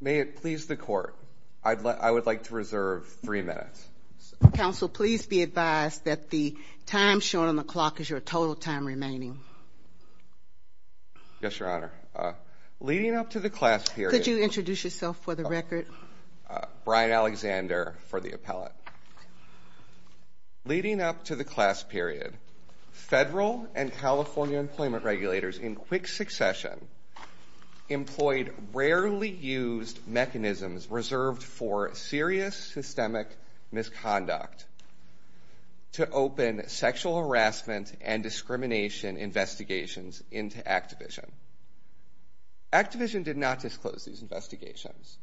May it please the Court, I would like to reserve three minutes. Counsel, please be advised that the time shown on the clock is your total time remaining. Yes, Your Honor. Leading up to the class period. Could you introduce yourself for the record? Brian Alexander for the appellate. Leading up to the class period, federal and California employment regulators in quick succession employed rarely used mechanisms reserved for serious systemic misconduct to open sexual harassment and discrimination investigations into Activision. Activision did not disclose these investigations.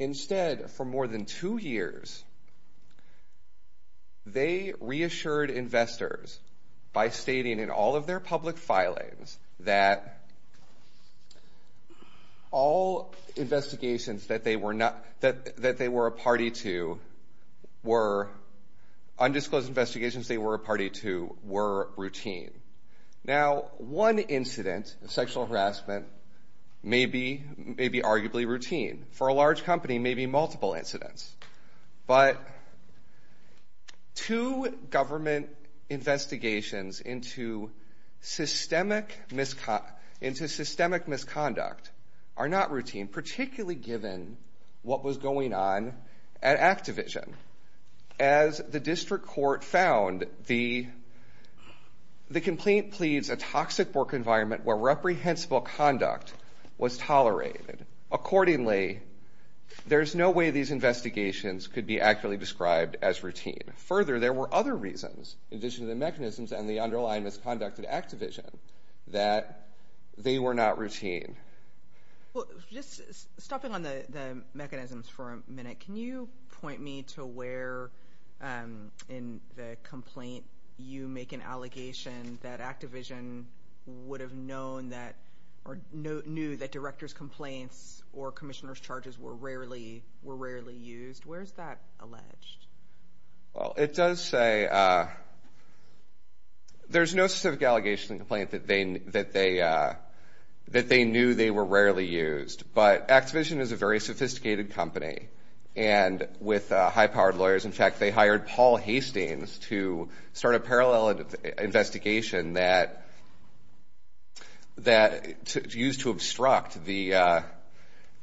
Instead, for more than two years, they reassured investors by stating in all of their public filings that all undisclosed investigations that they were a party to were routine. Now, one incident of sexual harassment may be arguably routine. For a large company, maybe multiple incidents. But two government investigations into systemic misconduct are not routine, particularly given what was going on at Activision. As the district court found, the complaint pleads a toxic work environment where reprehensible conduct was tolerated. Accordingly, there's no way these investigations could be accurately described as routine. Further, there were other reasons, in addition to the mechanisms and the underlying misconduct at Activision, that they were not routine. Just stopping on the mechanisms for a minute, can you point me to where in the complaint you make an allegation that Activision would have known that, or knew that director's complaints or commissioner's charges were rarely used? Where is that alleged? Well, it does say, there's no specific allegation in the complaint that they knew they were rarely used. But Activision is a very sophisticated company, and with high-powered lawyers. In fact, they hired Paul Hastings to start a parallel investigation that's used to obstruct the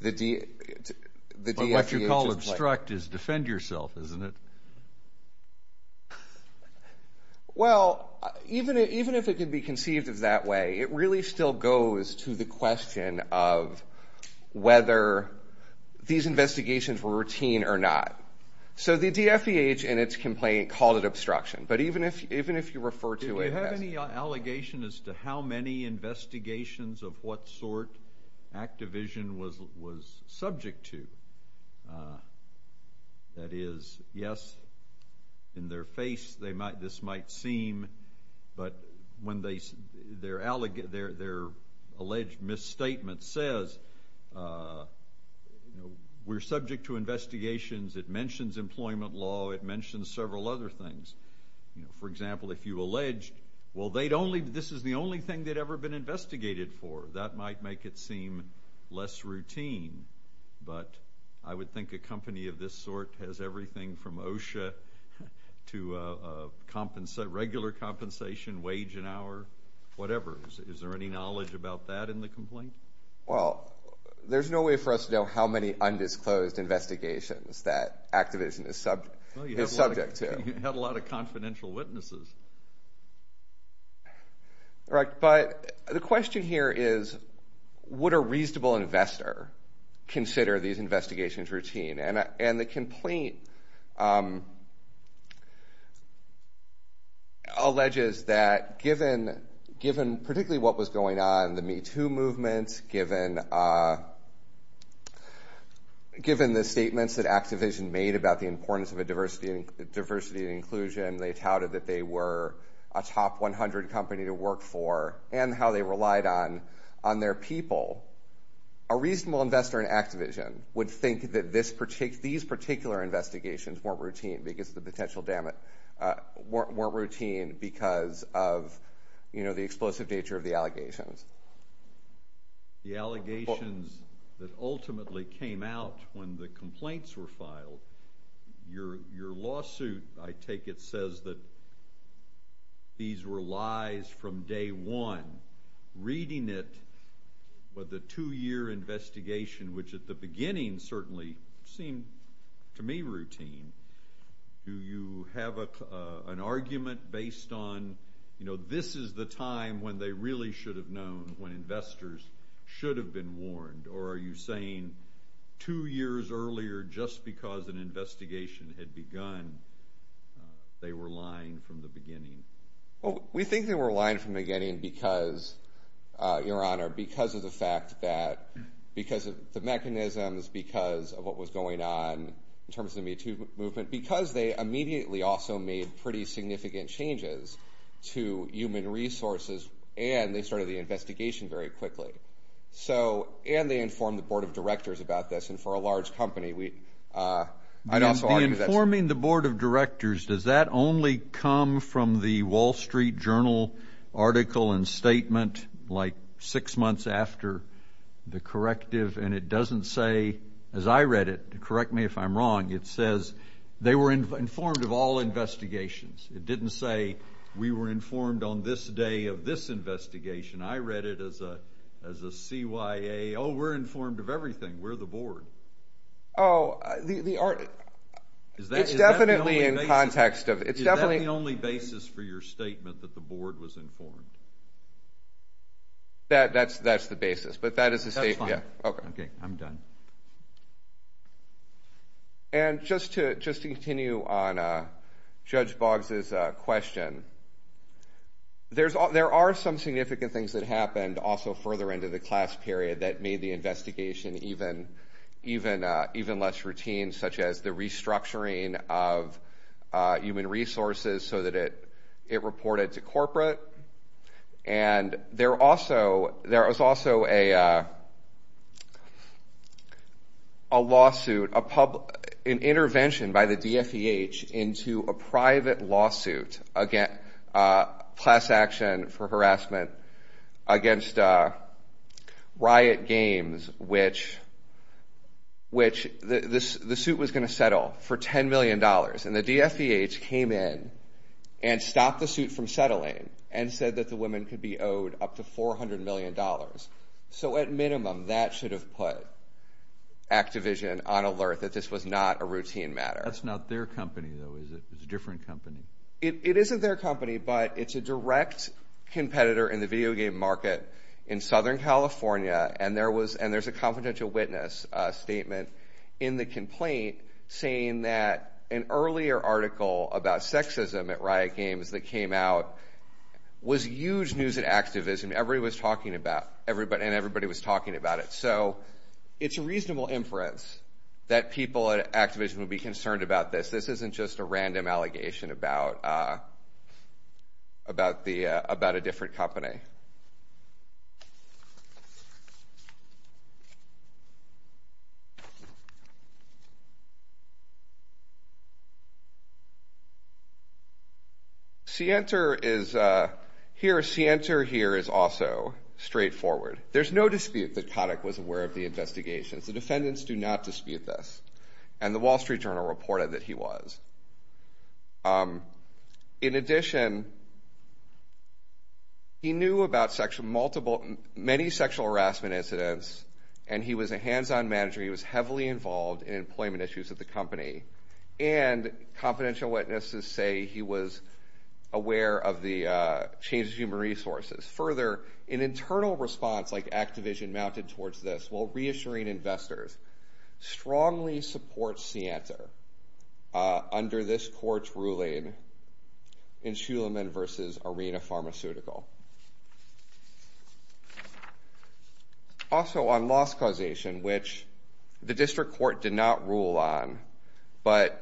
DSEA. Well, even if it could be conceived of that way, it really still goes to the question of whether these investigations were routine or not. So the DFBH, in its complaint, called it obstruction. But even if you refer to it as... Do you have any allegation as to how many investigations of what sort Activision was subject to? That is, yes, in their face this might seem, but when their alleged misstatement says, we're subject to investigations, it mentions employment law, it mentions several other things. For example, if you alleged, well, this is the only thing they'd ever been investigated for. That might make it seem less routine. But I would think a company of this sort has everything from OSHA to regular compensation, wage and hour, whatever. Is there any knowledge about that in the complaint? Well, there's no way for us to know how many undisclosed investigations that Activision is subject to. Well, you have a lot of confidential witnesses. Right, but the question here is, would a reasonable investor consider these investigations routine? And the complaint alleges that given particularly what was going on in the MeToo movement, given the statements that Activision made about the importance of diversity and inclusion, they touted that they were a top 100 company to work for and how they relied on their people. A reasonable investor in Activision would think that these particular investigations weren't routine because of the potential damage, weren't routine because of the explosive nature of the allegations. The allegations that ultimately came out when the complaints were filed, your lawsuit, I take it, says that these were lies from day one, reading it, but the two-year investigation, which at the beginning certainly seemed to me routine, do you have an argument based on this is the time when they really should have known, when investors should have been they were lying from the beginning? We think they were lying from the beginning because, your honor, because of the fact that, because of the mechanisms, because of what was going on in terms of the MeToo movement, because they immediately also made pretty significant changes to human resources and they started the investigation very quickly. So and they informed the board of directors about this and for a large company we, I'd also argue that. Informing the board of directors, does that only come from the Wall Street Journal article and statement like six months after the corrective and it doesn't say, as I read it, correct me if I'm wrong, it says they were informed of all investigations. It didn't say we were informed on this day of this investigation. I read it as a CYA, oh we're informed of everything, we're the board. Oh, the article, it's definitely in context of, it's definitely. Is that the only basis for your statement that the board was informed? That's the basis, but that is the statement. That's fine. Okay, I'm done. And just to continue on Judge Boggs' question, there are some significant things that happened also further into the class period that made the investigation even less routine, such as the restructuring of human resources so that it reported to corporate. And there also, there was also a lawsuit, an intervention by the DFEH into a private lawsuit, class action for harassment against Riot Games, which the suit was going to settle for $10 million. And the DFEH came in and stopped the suit from settling and said that the women could be owed up to $400 million. So at minimum, that should have put Activision on alert that this was not a routine matter. That's not their company, though, is it? It's a different company. It isn't their company, but it's a direct competitor in the video game market in Southern California, and there's a confidential witness statement in the complaint saying that an earlier article about sexism at Riot Games that came out was huge news at Activision. Everybody was talking about it. So it's a reasonable inference that people at Activision would be concerned about this. This isn't just a random allegation about a different company. Cienter is, here, Cienter here is also straightforward. There's no dispute that Kotick was aware of the investigations. The defendants do not dispute this, and the Wall Street Journal reported that he was. In addition, he knew about many sexual harassment incidents, and he was a hands-on manager. He was heavily involved in employment issues at the company. And confidential witnesses say he was aware of the change in human resources. Further, an internal response like Activision mounted towards this while reassuring investors, strongly supports Cienter under this court's ruling in Shulaman v. Arena Pharmaceutical. Also on loss causation, which the district court did not rule on, but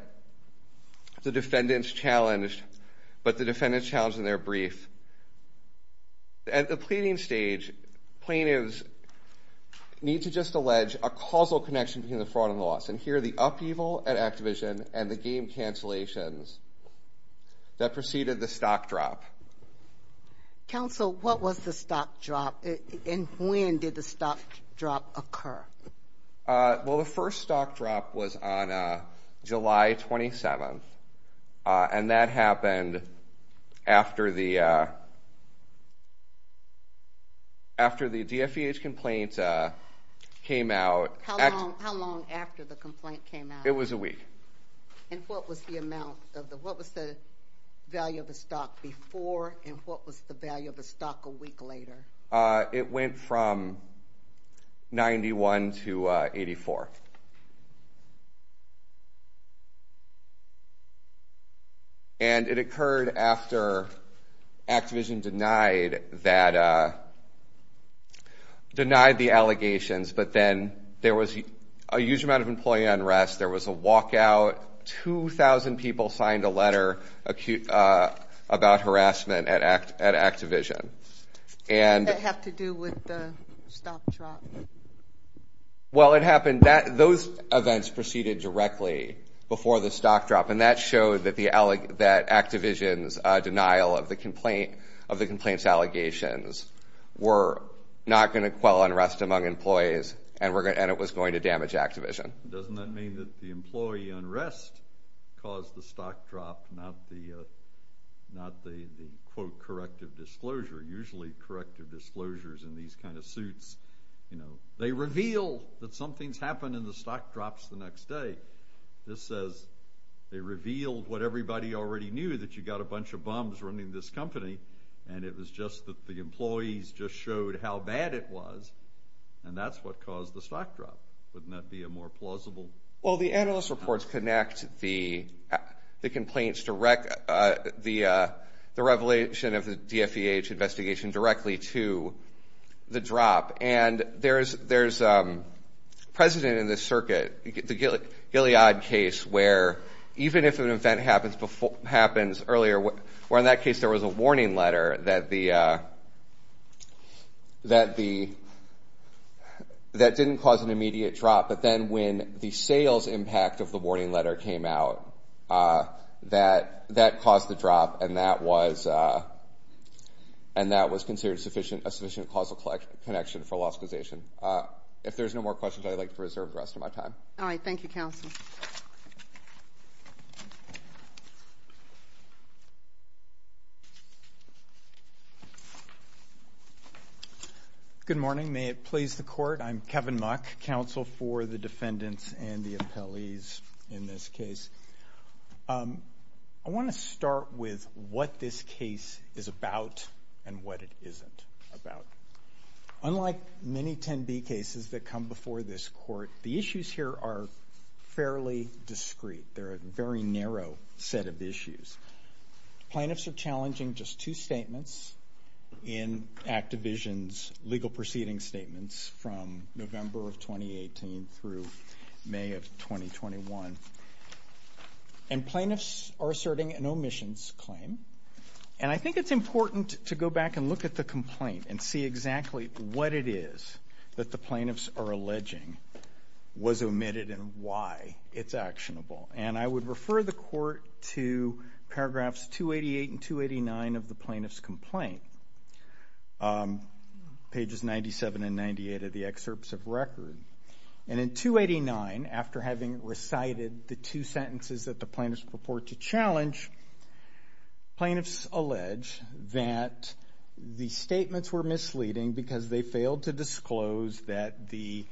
the defendants challenged, but the defendants challenged in their brief. At the pleading stage, plaintiffs need to just allege a causal connection between the fraud and the loss, and here are the upheaval at Activision and the game cancellations that preceded the stock drop. Counsel, what was the stock drop, and when did the stock drop occur? Well, the first stock drop was on July 27th, and that happened after the DFEH complaint came out. How long after the complaint came out? It was a week. And what was the amount of the, what was the value of the stock before, and what was the value of the stock a week later? It went from 91 to 84, and it occurred after Activision denied that, denied the allegations, but then there was a huge amount of employee unrest, there was a walkout, 2,000 people trying to find a letter about harassment at Activision. And did that have to do with the stock drop? Well, it happened, those events proceeded directly before the stock drop, and that showed that Activision's denial of the complaint, of the complaint's allegations, were not going to quell unrest among employees, and it was going to damage Activision. Doesn't that mean that the employee unrest caused the stock drop, not the, quote, corrective disclosure? Usually corrective disclosures in these kind of suits, you know, they reveal that something's happened and the stock drops the next day. This says they revealed what everybody already knew, that you got a bunch of bums running this company, and it was just that the employees just showed how bad it was, and that's what caused the stock drop. Wouldn't that be a more plausible? Well, the analyst reports connect the complaints direct, the revelation of the DFEH investigation directly to the drop, and there's precedent in this circuit, the Gilead case, where even if an event happens earlier, where in that case there was a warning letter that the, that didn't cause an immediate drop, but then when the sales impact of the warning letter came out, that caused the drop, and that was, and that was considered sufficient, a sufficient causal connection for loss causation. If there's no more questions, I'd like to reserve the rest of my time. All right. Thank you, counsel. Thank you. Good morning. May it please the court. I'm Kevin Muck, counsel for the defendants and the appellees in this case. I want to start with what this case is about and what it isn't about. Unlike many 10B cases that come before this court, the issues here are fairly discreet. They're a very narrow set of issues. Plaintiffs are challenging just two statements in Activision's legal proceeding statements from November of 2018 through May of 2021, and plaintiffs are asserting an omissions claim. And I think it's important to go back and look at the complaint and see exactly what it is that the plaintiffs are alleging was omitted and why it's actionable. And I would refer the court to paragraphs 288 and 289 of the plaintiff's complaint, pages 97 and 98 of the excerpts of record. And in 289, after having recited the two sentences that the plaintiffs purport to challenge, plaintiffs allege that the statements were misleading because they failed to disclose that the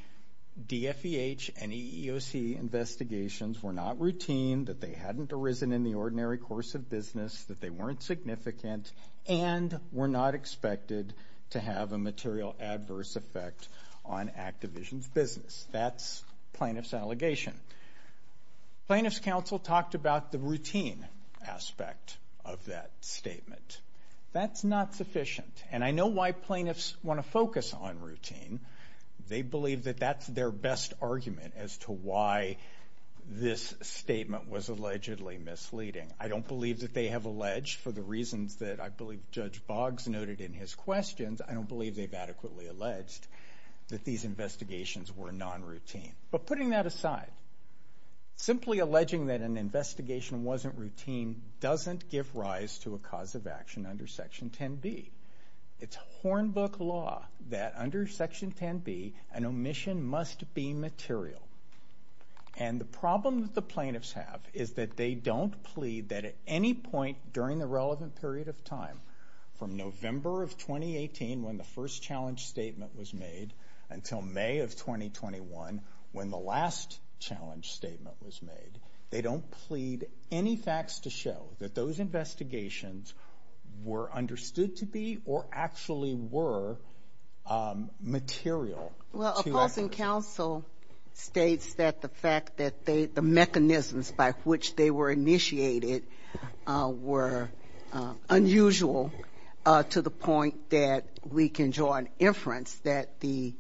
DFEH and EEOC investigations were not routine, that they hadn't arisen in the ordinary course of business, that they weren't significant, and were not expected to have a material adverse effect on Activision's business. That's plaintiff's allegation. Plaintiff's counsel talked about the routine aspect of that statement. That's not sufficient. And I know why plaintiffs want to focus on routine. They believe that that's their best argument as to why this statement was allegedly misleading. I don't believe that they have alleged, for the reasons that I believe Judge Boggs noted in his questions, I don't believe they've adequately alleged that these investigations were non-routine. But putting that aside, simply alleging that an investigation wasn't routine doesn't give rise to a cause of action under Section 10B. It's hornbook law that under Section 10B, an omission must be material. And the problem that the plaintiffs have is that they don't plead that at any point during the relevant period of time, from November of 2018, when the first challenge statement was made, until May of 2021, when the last challenge statement was made. They don't plead any facts to show that those investigations were understood to be, or actually were, material. Well, opposing counsel states that the fact that they, the mechanisms by which they were made, are unusual to the point that we can draw an inference that the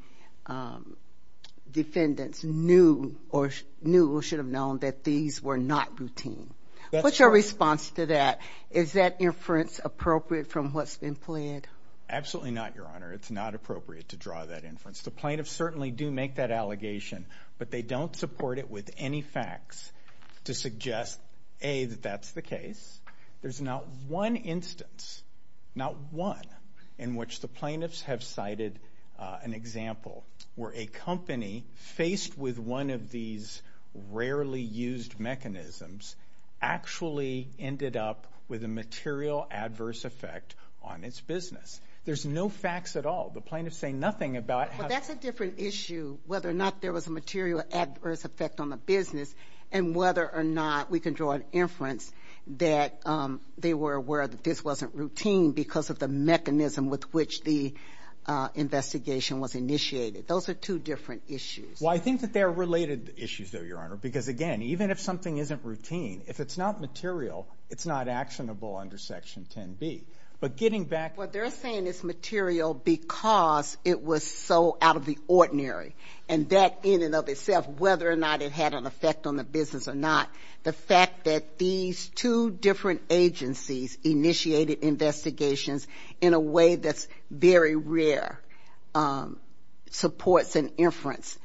defendants knew, or knew or should have known, that these were not routine. That's right. What's your response to that? Is that inference appropriate from what's been plead? Absolutely not, Your Honor. It's not appropriate to draw that inference. The plaintiffs certainly do make that allegation, but they don't support it with any facts to suggest, A, that that's the case. There's not one instance, not one, in which the plaintiffs have cited an example where a company, faced with one of these rarely used mechanisms, actually ended up with a material adverse effect on its business. There's no facts at all. The plaintiffs say nothing about how... Well, that's a different issue, whether or not there was a material adverse effect on the business, and whether or not we can draw an inference that they were aware that this wasn't routine because of the mechanism with which the investigation was initiated. Those are two different issues. Well, I think that they're related issues, though, Your Honor, because, again, even if something isn't routine, if it's not material, it's not actionable under Section 10B. But getting back... Well, they're saying it's material because it was so out of the ordinary, and that in and of itself, whether or not it had an effect on the business or not, the fact that these two different agencies initiated investigations in a way that's very rare supports an inference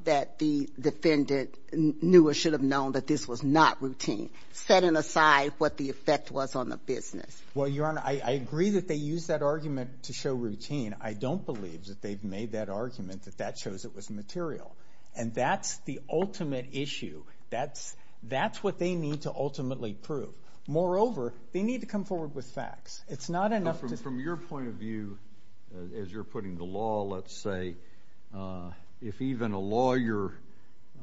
that the defendant knew or should have known that this was not routine, setting aside what the effect was on the business. Well, Your Honor, I agree that they use that argument to show routine. I don't believe that they've made that argument that that shows it was material, and that's the ultimate issue. That's what they need to ultimately prove. Moreover, they need to come forward with facts. It's not enough to... From your point of view, as you're putting the law, let's say, if even a lawyer,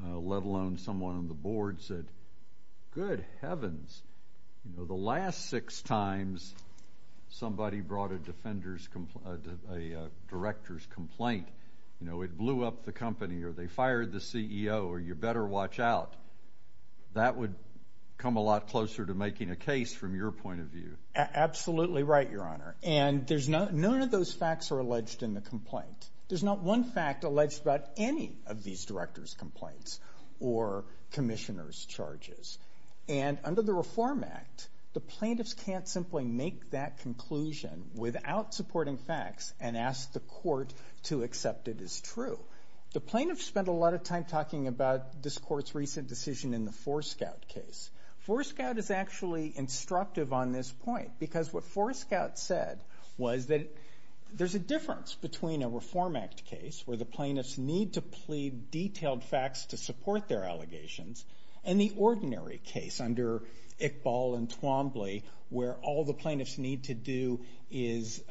let alone someone on the board, said, good heavens, the last six times somebody brought a defender's or a director's complaint, it blew up the company, or they fired the CEO, or you better watch out. That would come a lot closer to making a case from your point of view. Absolutely right, Your Honor, and none of those facts are alleged in the complaint. There's not one fact alleged about any of these directors' complaints or commissioners' charges, and under the Reform Act, the plaintiffs can't simply make that conclusion without supporting facts and ask the court to accept it as true. The plaintiffs spent a lot of time talking about this court's recent decision in the Forescout case. Forescout is actually instructive on this point, because what Forescout said was that there's a difference between a Reform Act case, where the plaintiffs need to plead detailed facts to support their allegations, and the ordinary case under Iqbal and Twombly, where all the plaintiffs need to do is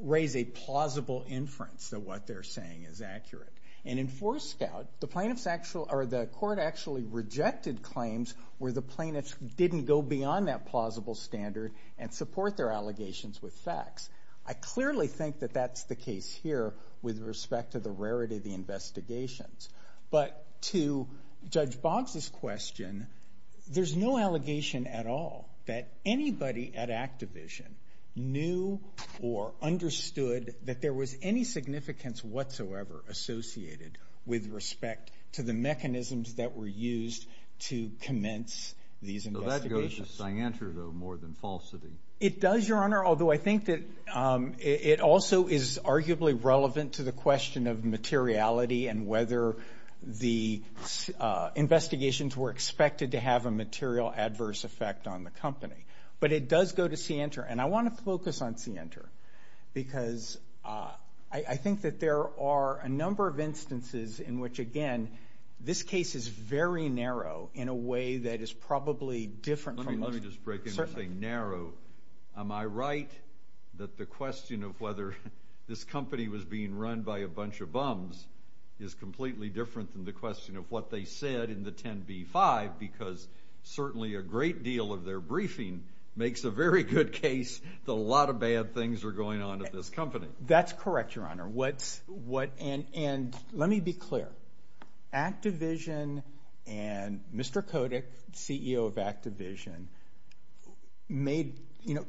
raise a plausible inference that what they're saying is accurate. In Forescout, the court actually rejected claims where the plaintiffs didn't go beyond that plausible standard and support their allegations with facts. I clearly think that that's the case here with respect to the rarity of the investigations, but to Judge Boggs' question, there's no allegation at all that anybody at Activision knew or understood that there was any significance whatsoever associated with respect to the mechanisms that were used to commence these investigations. So that goes to scienter, though, more than falsity. It does, Your Honor, although I think that it also is arguably relevant to the question of materiality and whether the investigations were expected to have a material adverse effect on the company. But it does go to scienter, and I want to focus on scienter, because I think that there are a number of instances in which, again, this case is very narrow in a way that is probably different from most. Let me just break in and say narrow. Am I right that the question of whether this company was being run by a bunch of bums is completely different than the question of what they said in the 10b-5, because certainly a great deal of their briefing makes a very good case that a lot of bad things are going on at this company? That's correct, Your Honor. And let me be clear. Activision and Mr. Kotick, CEO of Activision,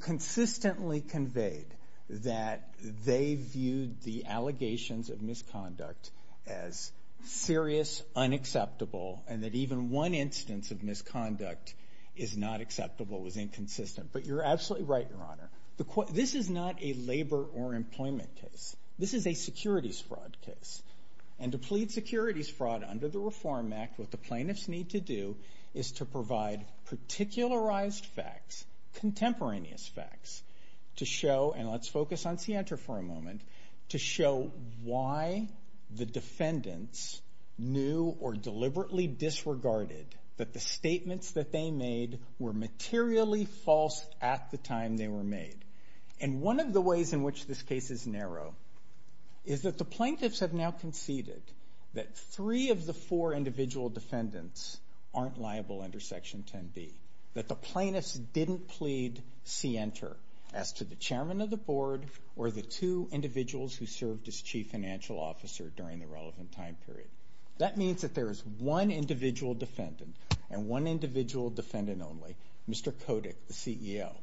consistently conveyed that they viewed the allegations of misconduct as serious, unacceptable, and that even one instance of misconduct is not acceptable, was inconsistent. But you're absolutely right, Your Honor. This is not a labor or employment case. This is a securities fraud case. And to plead securities fraud under the Reform Act, what the plaintiffs need to do is to provide particularized facts, contemporaneous facts, to show, and let's focus on scienter for a moment, to show why the defendants knew or deliberately disregarded that the statements that they made were materially false at the time they were made. And one of the ways in which this case is narrow is that the plaintiffs have now conceded that three of the four individual defendants aren't liable under Section 10b. That the plaintiffs didn't plead scienter as to the chairman of the board or the two individuals who served as chief financial officer during the relevant time period. That means that there is one individual defendant and one individual defendant only, Mr. Kotick, the CEO.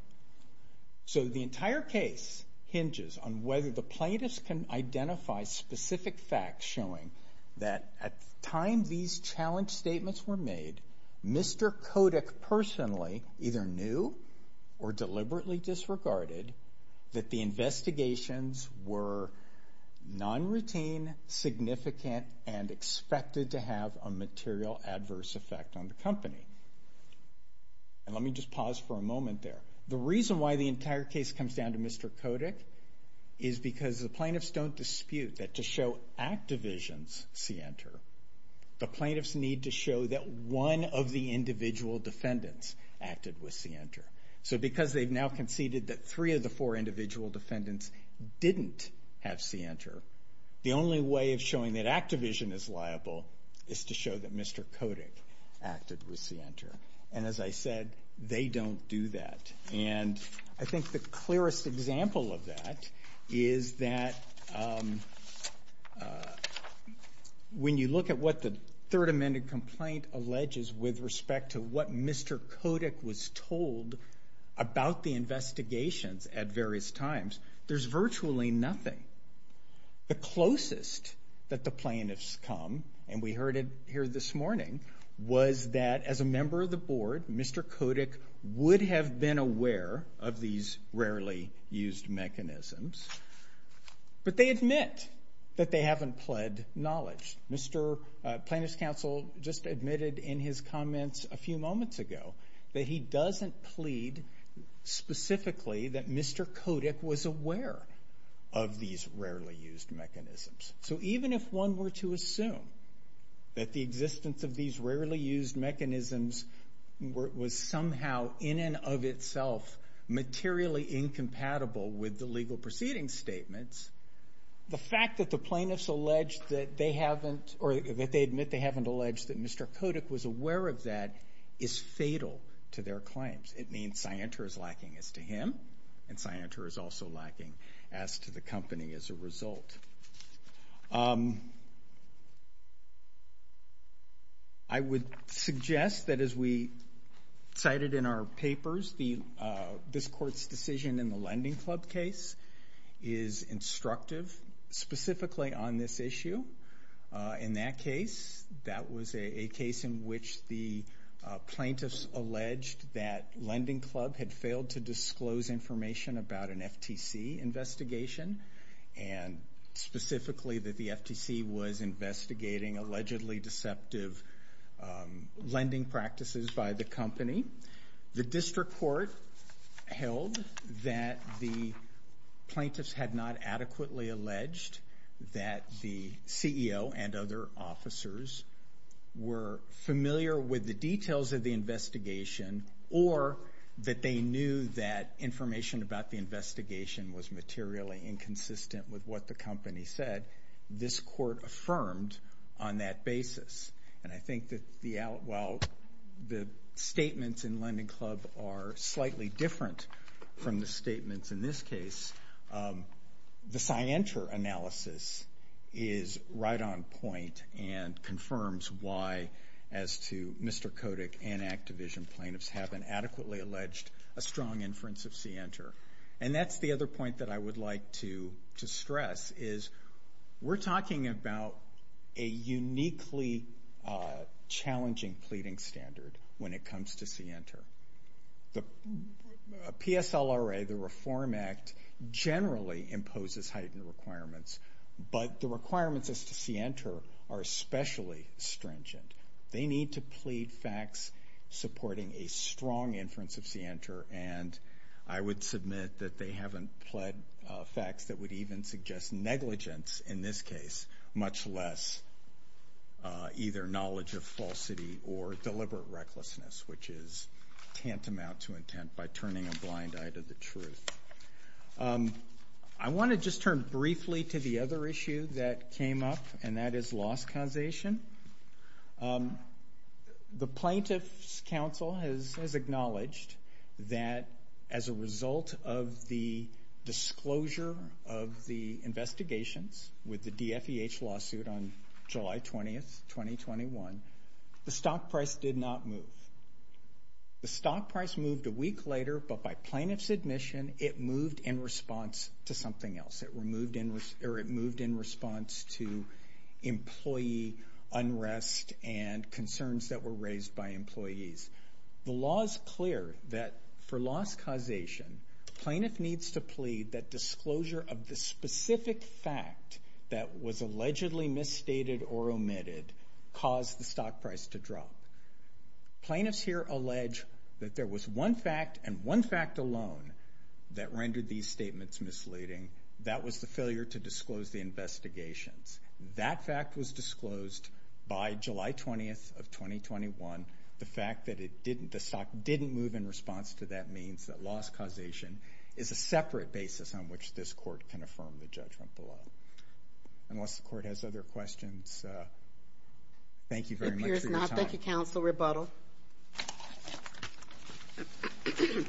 So the entire case hinges on whether the plaintiffs can identify specific facts showing that at time these challenge statements were made, Mr. Kotick personally either knew or deliberately disregarded that the investigations were non-routine, significant, and expected to have a material adverse effect on the company. And let me just pause for a moment there. The reason why the entire case comes down to Mr. Kotick is because the plaintiffs don't dispute that to show activisions scienter, the plaintiffs need to show that one of the individual defendants acted with scienter. So because they've now conceded that three of the four individual defendants didn't have scienter, the only way of showing that activision is liable is to show that Mr. Kotick acted with scienter. And as I said, they don't do that. And I think the clearest example of that is that when you look at what the third amended complaint alleges with respect to what Mr. Kotick was told about the investigations at various times, there's virtually nothing. The closest that the plaintiffs come, and we heard it here this morning, was that as a member of the board, Mr. Kotick would have been aware of these rarely used mechanisms, but they admit that they haven't pled knowledge. Mr. Plaintiff's counsel just admitted in his comments a few moments ago that he doesn't plead specifically that Mr. Kotick was aware of these rarely used mechanisms. So even if one were to assume that the existence of these rarely used mechanisms was somehow in and of itself materially incompatible with the legal proceeding statements, the fact that the plaintiffs allege that they haven't, or that they admit they haven't alleged that Mr. Kotick was aware of that is fatal to their claims. It means scienter is lacking as to him, and scienter is also lacking as to the company as a result. I would suggest that as we cited in our papers, this court's decision in the lending club case is instructive specifically on this issue. In that case, that was a case in which the plaintiffs alleged that lending club had failed to disclose information about an FTC investigation, and specifically that the FTC was investigating allegedly deceptive lending practices by the company. The district court held that the plaintiffs had not adequately alleged that the CFO had failed, that the CEO and other officers were familiar with the details of the investigation, or that they knew that information about the investigation was materially inconsistent with what the company said. This court affirmed on that basis, and I think that while the statements in lending club are slightly different from the statements in this case, the scienter analysis is really right on point and confirms why as to Mr. Kodik and Activision plaintiffs haven't adequately alleged a strong inference of scienter. That's the other point that I would like to stress is we're talking about a uniquely challenging pleading standard when it comes to scienter. The PSLRA, the reform act, generally imposes heightened requirements, but the requirements as to scienter are especially stringent. They need to plead facts supporting a strong inference of scienter, and I would submit that they haven't pled facts that would even suggest negligence in this case, much less either knowledge of falsity or deliberate recklessness, which is tantamount to intent by turning a blind eye to the truth. I want to just turn briefly to the other issue that came up, and that is loss causation. The plaintiff's counsel has acknowledged that as a result of the disclosure of the investigations with the DFEH lawsuit on July 20th, 2021, the stock price did not move. The stock price moved a week later, but by plaintiff's admission, it moved in response to something else. It moved in response to employee unrest and concerns that were raised by employees. The law is clear that for loss causation, plaintiff needs to plead that disclosure of the specific fact that was allegedly misstated or omitted caused the stock price to drop. Plaintiffs here allege that there was one fact and one fact alone that rendered these statements misleading. That was the failure to disclose the investigations. That fact was disclosed by July 20th of 2021. The fact that it didn't, the stock didn't move in response to that means that loss causation is a separate basis on which this court can affirm the judgment below. Unless the court has other questions, thank you very much for your time. Thank you, counsel. Rebuttal. Yeah.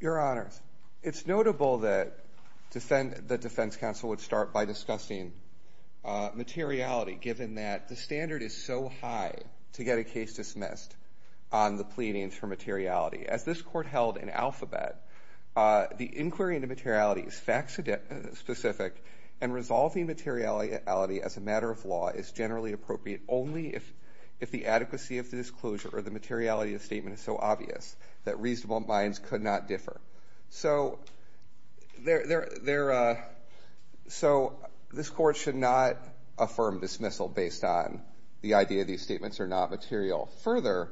Your honors. It's notable that the defense counsel would start by discussing materiality, given that the standard is so high to get a case dismissed on the pleadings for materiality. As this court held in alphabet, the inquiry into materiality is fact-specific, and resolving materiality as a matter of law is generally appropriate only if the adequacy of the disclosure or the materiality of the statement is so obvious that reasonable minds could not differ. So this court should not affirm dismissal based on the idea these statements are not material. Further,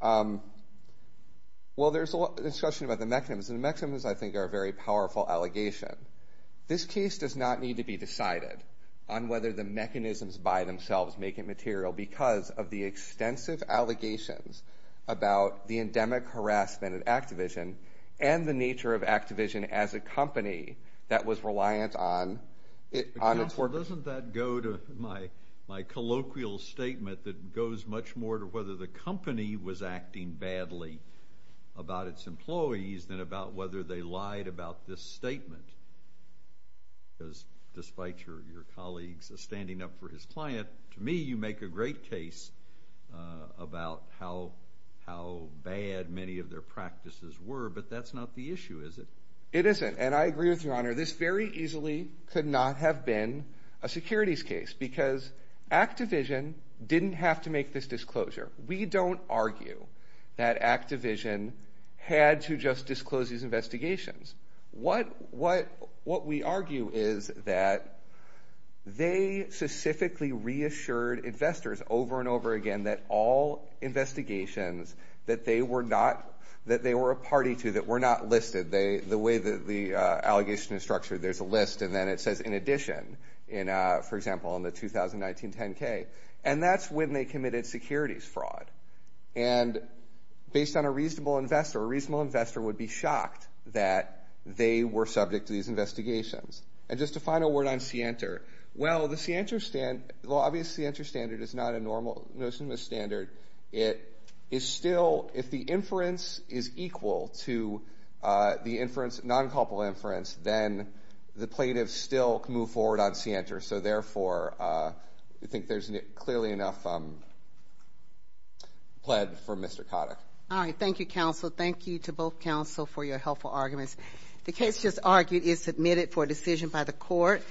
while there's a lot of discussion about the mechanism, the mechanisms, I think, are a very powerful allegation. This case does not need to be decided on whether the mechanisms by themselves make it material because of the extensive allegations about the endemic harassment of Activision and the nature of Activision as a company that was reliant on its workers. Counselor, doesn't that go to my colloquial statement that goes much more to whether the company was acting badly about its employees than about whether they lied about this statement? Despite your colleagues standing up for his client, to me, you make a great case about how bad many of their practices were, but that's not the issue, is it? It isn't. And I agree with your honor. This very easily could not have been a securities case because Activision didn't have to make this disclosure. We don't argue that Activision had to just disclose these investigations. What we argue is that they specifically reassured investors over and over again that all investigations that they were a party to, that were not listed, the way that the allegation is structured, there's a list. And then it says, in addition, for example, in the 2019 10-K. And that's when they committed securities fraud. And based on a reasonable investor, would be shocked that they were subject to these investigations. And just a final word on Sienta. Well, the Sienta standard is not a normal notion of standard. It is still, if the inference is equal to the non-couple inference, then the plaintiff still can move forward on Sienta. So therefore, I think there's clearly enough pled for Mr. Kotick. All right, thank you, counsel. Thank you to both counsel for your helpful arguments. The case just argued is submitted for decision by the court.